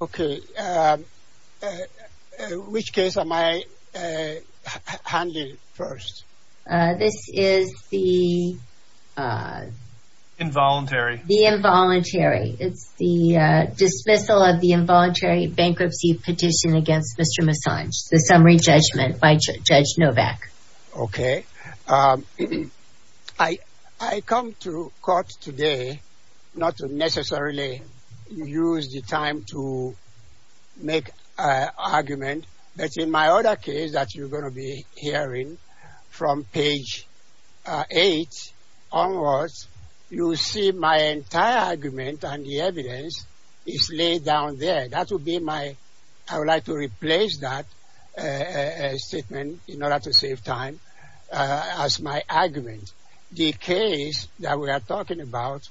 Okay, which case am I handling first? This is the involuntary. The involuntary. It's the dismissal of the involuntary bankruptcy petition against Mr. Musonge, the summary judgment by Judge Novak. Okay. I come to court today not to necessarily use the time to make an argument, but in my other case that you're going to be hearing from page 8 onwards, you'll see my entire argument and the evidence is laid down there. That would be my, I would like to replace that statement in order to save time as my argument. The case that we are talking about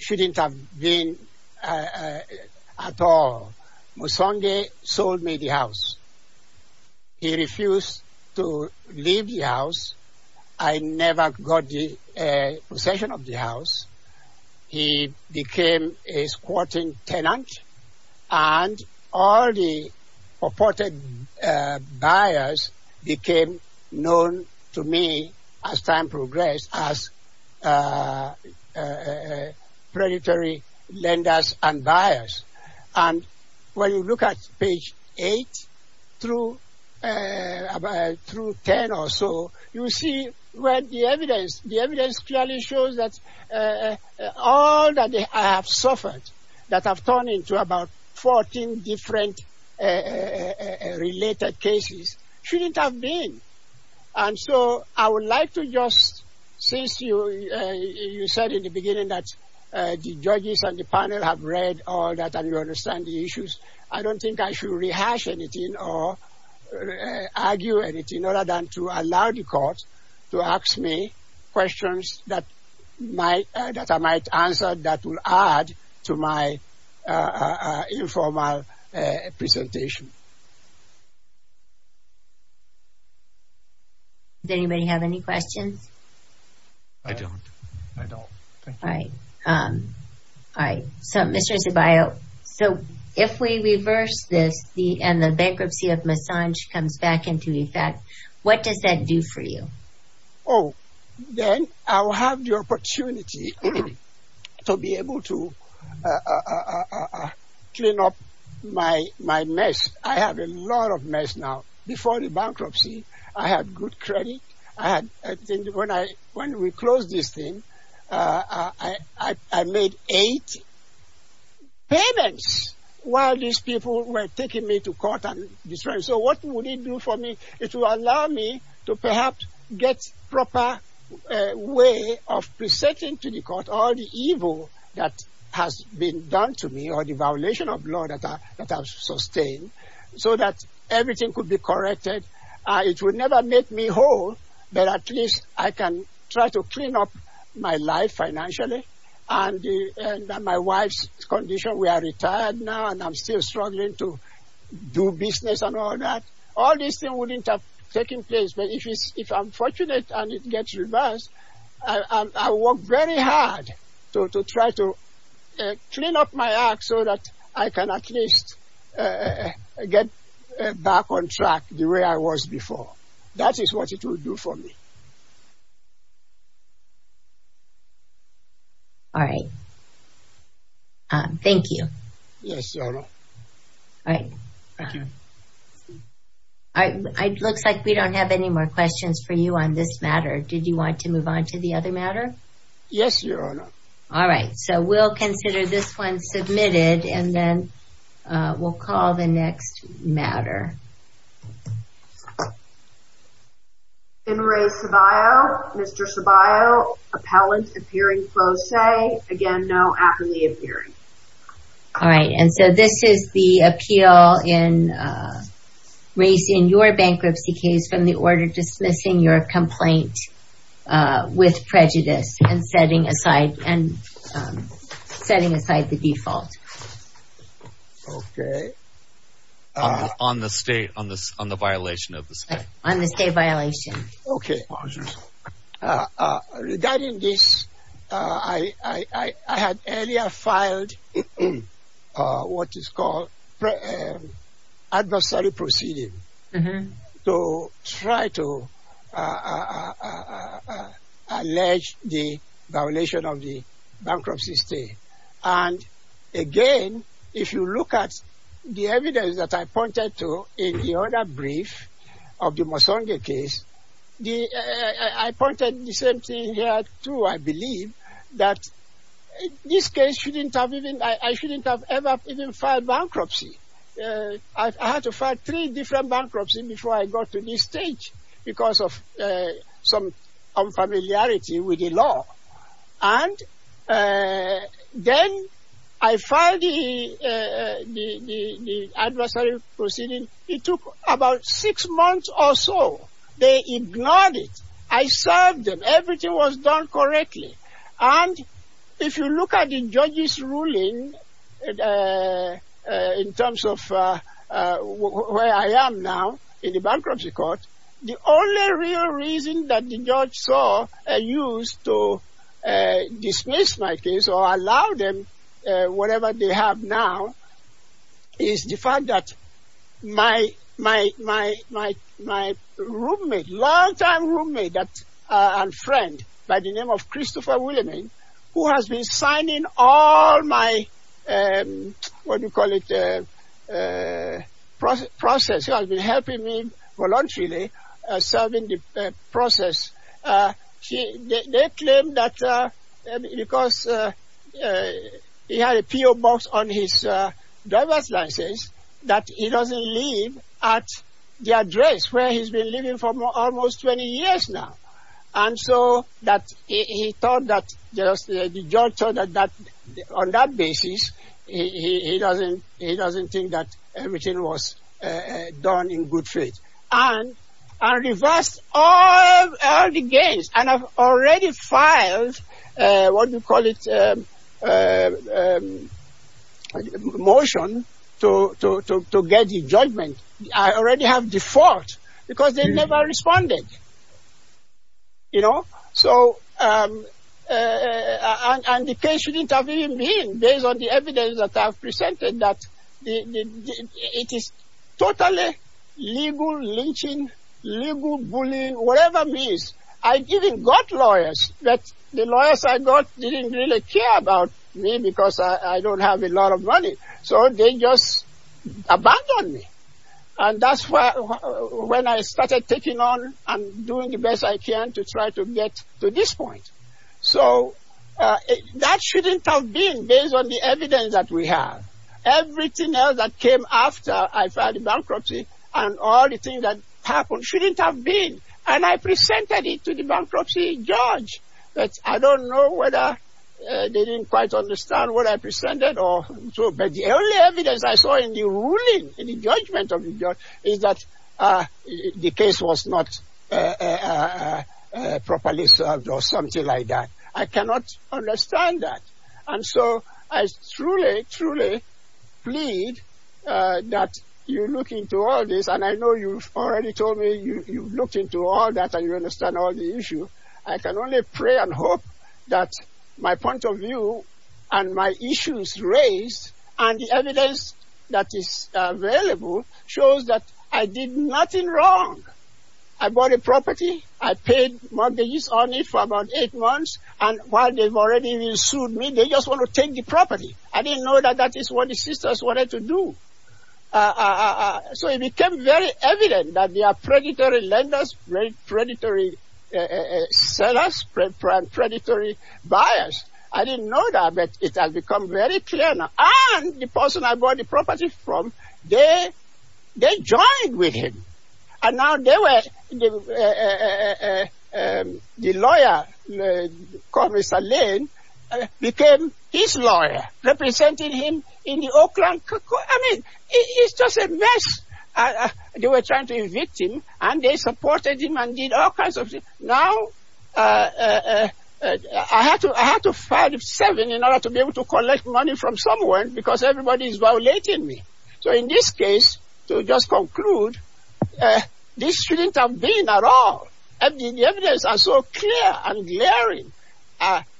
shouldn't have been at all. Musonge sold me the house. He refused to leave the house. I never got the possession of the known to me, as time progressed, as predatory lenders and buyers. And when you look at page 8 through 10 or so, you see where the evidence, the evidence clearly shows that all that I have And so I would like to just, since you said in the beginning that the judges and the panel have read all that and you understand the issues, I don't think I should rehash anything or argue anything other than to allow the court to ask me questions that I might answer that will add to my informal presentation. Does anybody have any questions? I don't. I don't. Alright, so Mr. Zubayo, so if we reverse this and the bankruptcy of Musonge comes back into effect, what does that do for you? Oh, then I will have the opportunity to be able to clean up my mess. I have a lot of mess now. Before the bankruptcy, I had good credit. When we closed this thing, I made eight payments while these people were taking me to court and destroying me. So what would it do for me? It would allow me to perhaps get proper way of presenting to the court all the evil that has been done to me or the violation of law that I have sustained so that everything could be corrected. It would never make me whole, but at least I can try to clean up my life financially. And my wife's condition, we are retired now and I'm still struggling to do business and all that. All these things wouldn't have taken place, but if I'm fortunate and it gets reversed, I will work very hard to try to clean up my act so that I can at least get back on track the way I was before. That is what it would do for me. Alright. Thank you. Yes, Your Honor. It looks like we don't have any more questions for you on this matter. Did you want to move on to the other matter? Yes, Your Honor. Alright, so we'll consider this one submitted and then we'll call the next matter. Finray Ceballo. Mr. Ceballo, appellant appearing close say. Again, no. Aptly appearing. Alright, and so this is the appeal in raising your bankruptcy case from the order dismissing your complaint with prejudice and setting aside the default. Okay. On the state, on the violation of the state. On the state violation. Okay. Regarding this, I had earlier filed what is called adversary proceeding to try to allege the violation of the bankruptcy state. And again, if you look at the evidence that I pointed to in the other brief of the Mosonge case, I pointed the same thing here too, I believe, that this case shouldn't have even, I shouldn't have ever even filed bankruptcy. I had to file three different bankruptcies before I got to this stage because of some familiarity with the law. And then I filed the adversary proceeding. It took about six months or so. They ignored it. I served them. Everything was done correctly. And if you look at the judge's ruling in terms of where I am now in the bankruptcy court, the only real reason that the law used to dismiss my case or allow them whatever they have now is the fact that my roommate, long-time roommate and friend by the name of Christopher Williaming, who has been signing all my, what do you call it, process. He has been helping me voluntarily serving the process. They claim that because he had a P.O. Box on his driver's license that he doesn't live at the address where he's been living for almost 20 years now. And so that he thought that the judge thought that on that basis he doesn't think that everything was done in good faith. And reversed all the gains. And I've already filed, what do you call it, a motion to get the judgment. I already have default because they never responded. And the case shouldn't have even been based on the evidence that I've presented that it is totally legal lynching, legal bullying, whatever it is. I even got lawyers, but the lawyers I got didn't really care about me because I don't have a lot of money. So they just abandoned me. And that's when I started taking on and doing the So that shouldn't have been based on the evidence that we have. Everything else that came after I filed the bankruptcy and all the things that happened shouldn't have been. And I presented it to the bankruptcy judge. But I don't know whether they didn't quite understand what I presented. But the only evidence I saw in the ruling, in the judgment of the judge, is that the case was not properly served or something like that. I cannot understand that. And so I truly, truly plead that you look into all this. And I know you've already told me you've looked into all that and you understand all the issue. I can only pray and hope that my point of view and my issues raised and the evidence that is available shows that I did nothing wrong. I bought a property. I paid mortgage on it for about eight months. And while they've already sued me, they just want to take the property. I didn't know that that is what the sisters wanted to do. So it became very evident that they are predatory lenders, predatory sellers, predatory buyers. I didn't know that, but it has become very clear now. And the person I bought the property from, they joined with him. And now they were, the lawyer, called Mr. Lane, became his lawyer, representing him in the Oakland court. I mean, it's just a mess. They were trying to evict him and they supported him and did all kinds of things. Now, I had to file the seven in order to be able to collect money from someone because everybody is violating me. So in this case, to just conclude, this shouldn't have been at all. The evidence are so clear and glaring.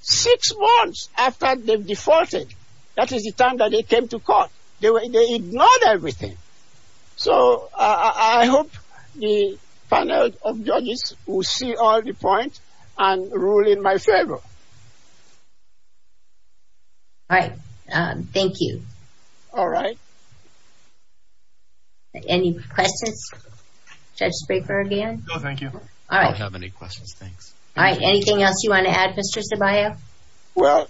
Six months after they've defaulted, that is the time that they came to court. They ignored everything. So I hope the panel of judges will see all the points and rule in my favor. All right. Thank you. All right. Any questions? Judge Spraker again? No, thank you. I don't have any questions. Thanks. All right. Anything else you want to add, Mr. Zabiah? Well,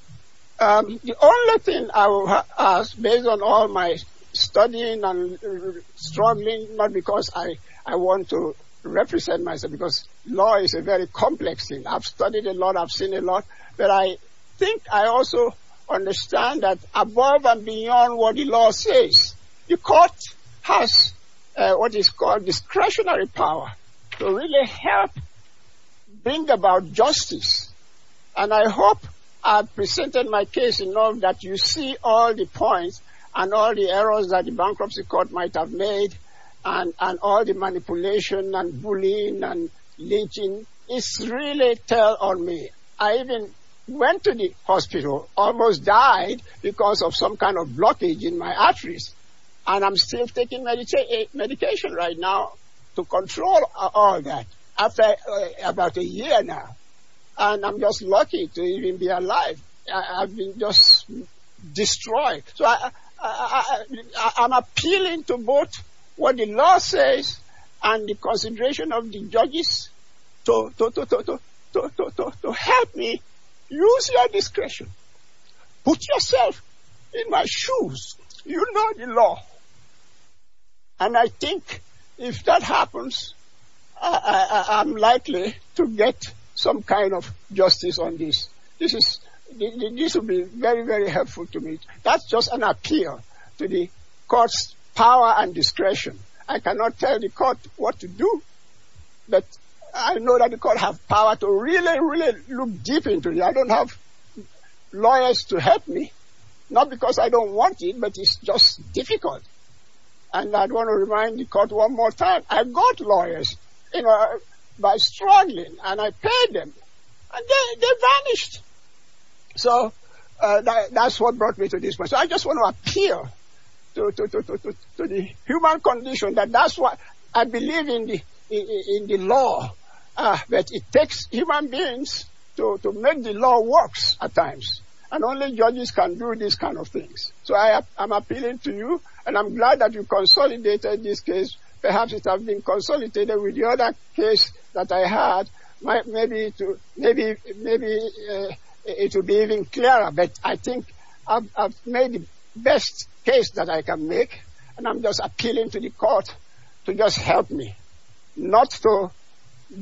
the only thing I will ask, based on all my studying and struggling, not because I want to represent myself, because law is a very complex thing. I've studied a lot. I've seen a lot. But I think I also understand that above and beyond what the law says, the court has what is called discretionary power to really help bring about court might have made. And all the manipulation and bullying and lynching is really tell on me. I even went to the hospital, almost died because of some kind of blockage in my arteries. And I'm still taking medication right now to control all that after about a year now. And I'm just lucky to even be alive. I've been just destroyed. So I'm appealing to both what the law says and the consideration of the judges to help me use your discretion. Put yourself in my shoes. You know the law. And I think if that happens, I'm likely to get some kind of justice on this. This would be very, very helpful to me. That's just an appeal to the court's power and discretion. I cannot tell the court what to do. But I know that the court have power to really, really look deep into it. I don't have lawyers to help me. Not because I don't want it, but it's just difficult. And I want to remind the court one more time, I've got lawyers. By struggling, and I paid them, and they vanished. So that's what brought me to this. I just want to appeal to the human condition that that's what I believe in the law. But it takes human beings to make the law works at times. And only judges can do these kind of things. So I am appealing to you. And I'm glad that you consolidated this case. Perhaps it will be even clearer. But I think I've made the best case that I can make. And I'm just appealing to the court to just help me. Not to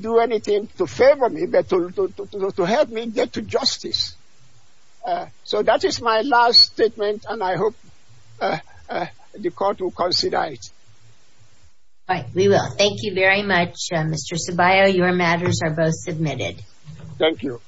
do anything to favor me, but to help me get to justice. So that is my last statement. And I hope the court will consider it. All right. We will. Thank you very much, Mr. Ceballo. Your matters are both submitted. Thank you.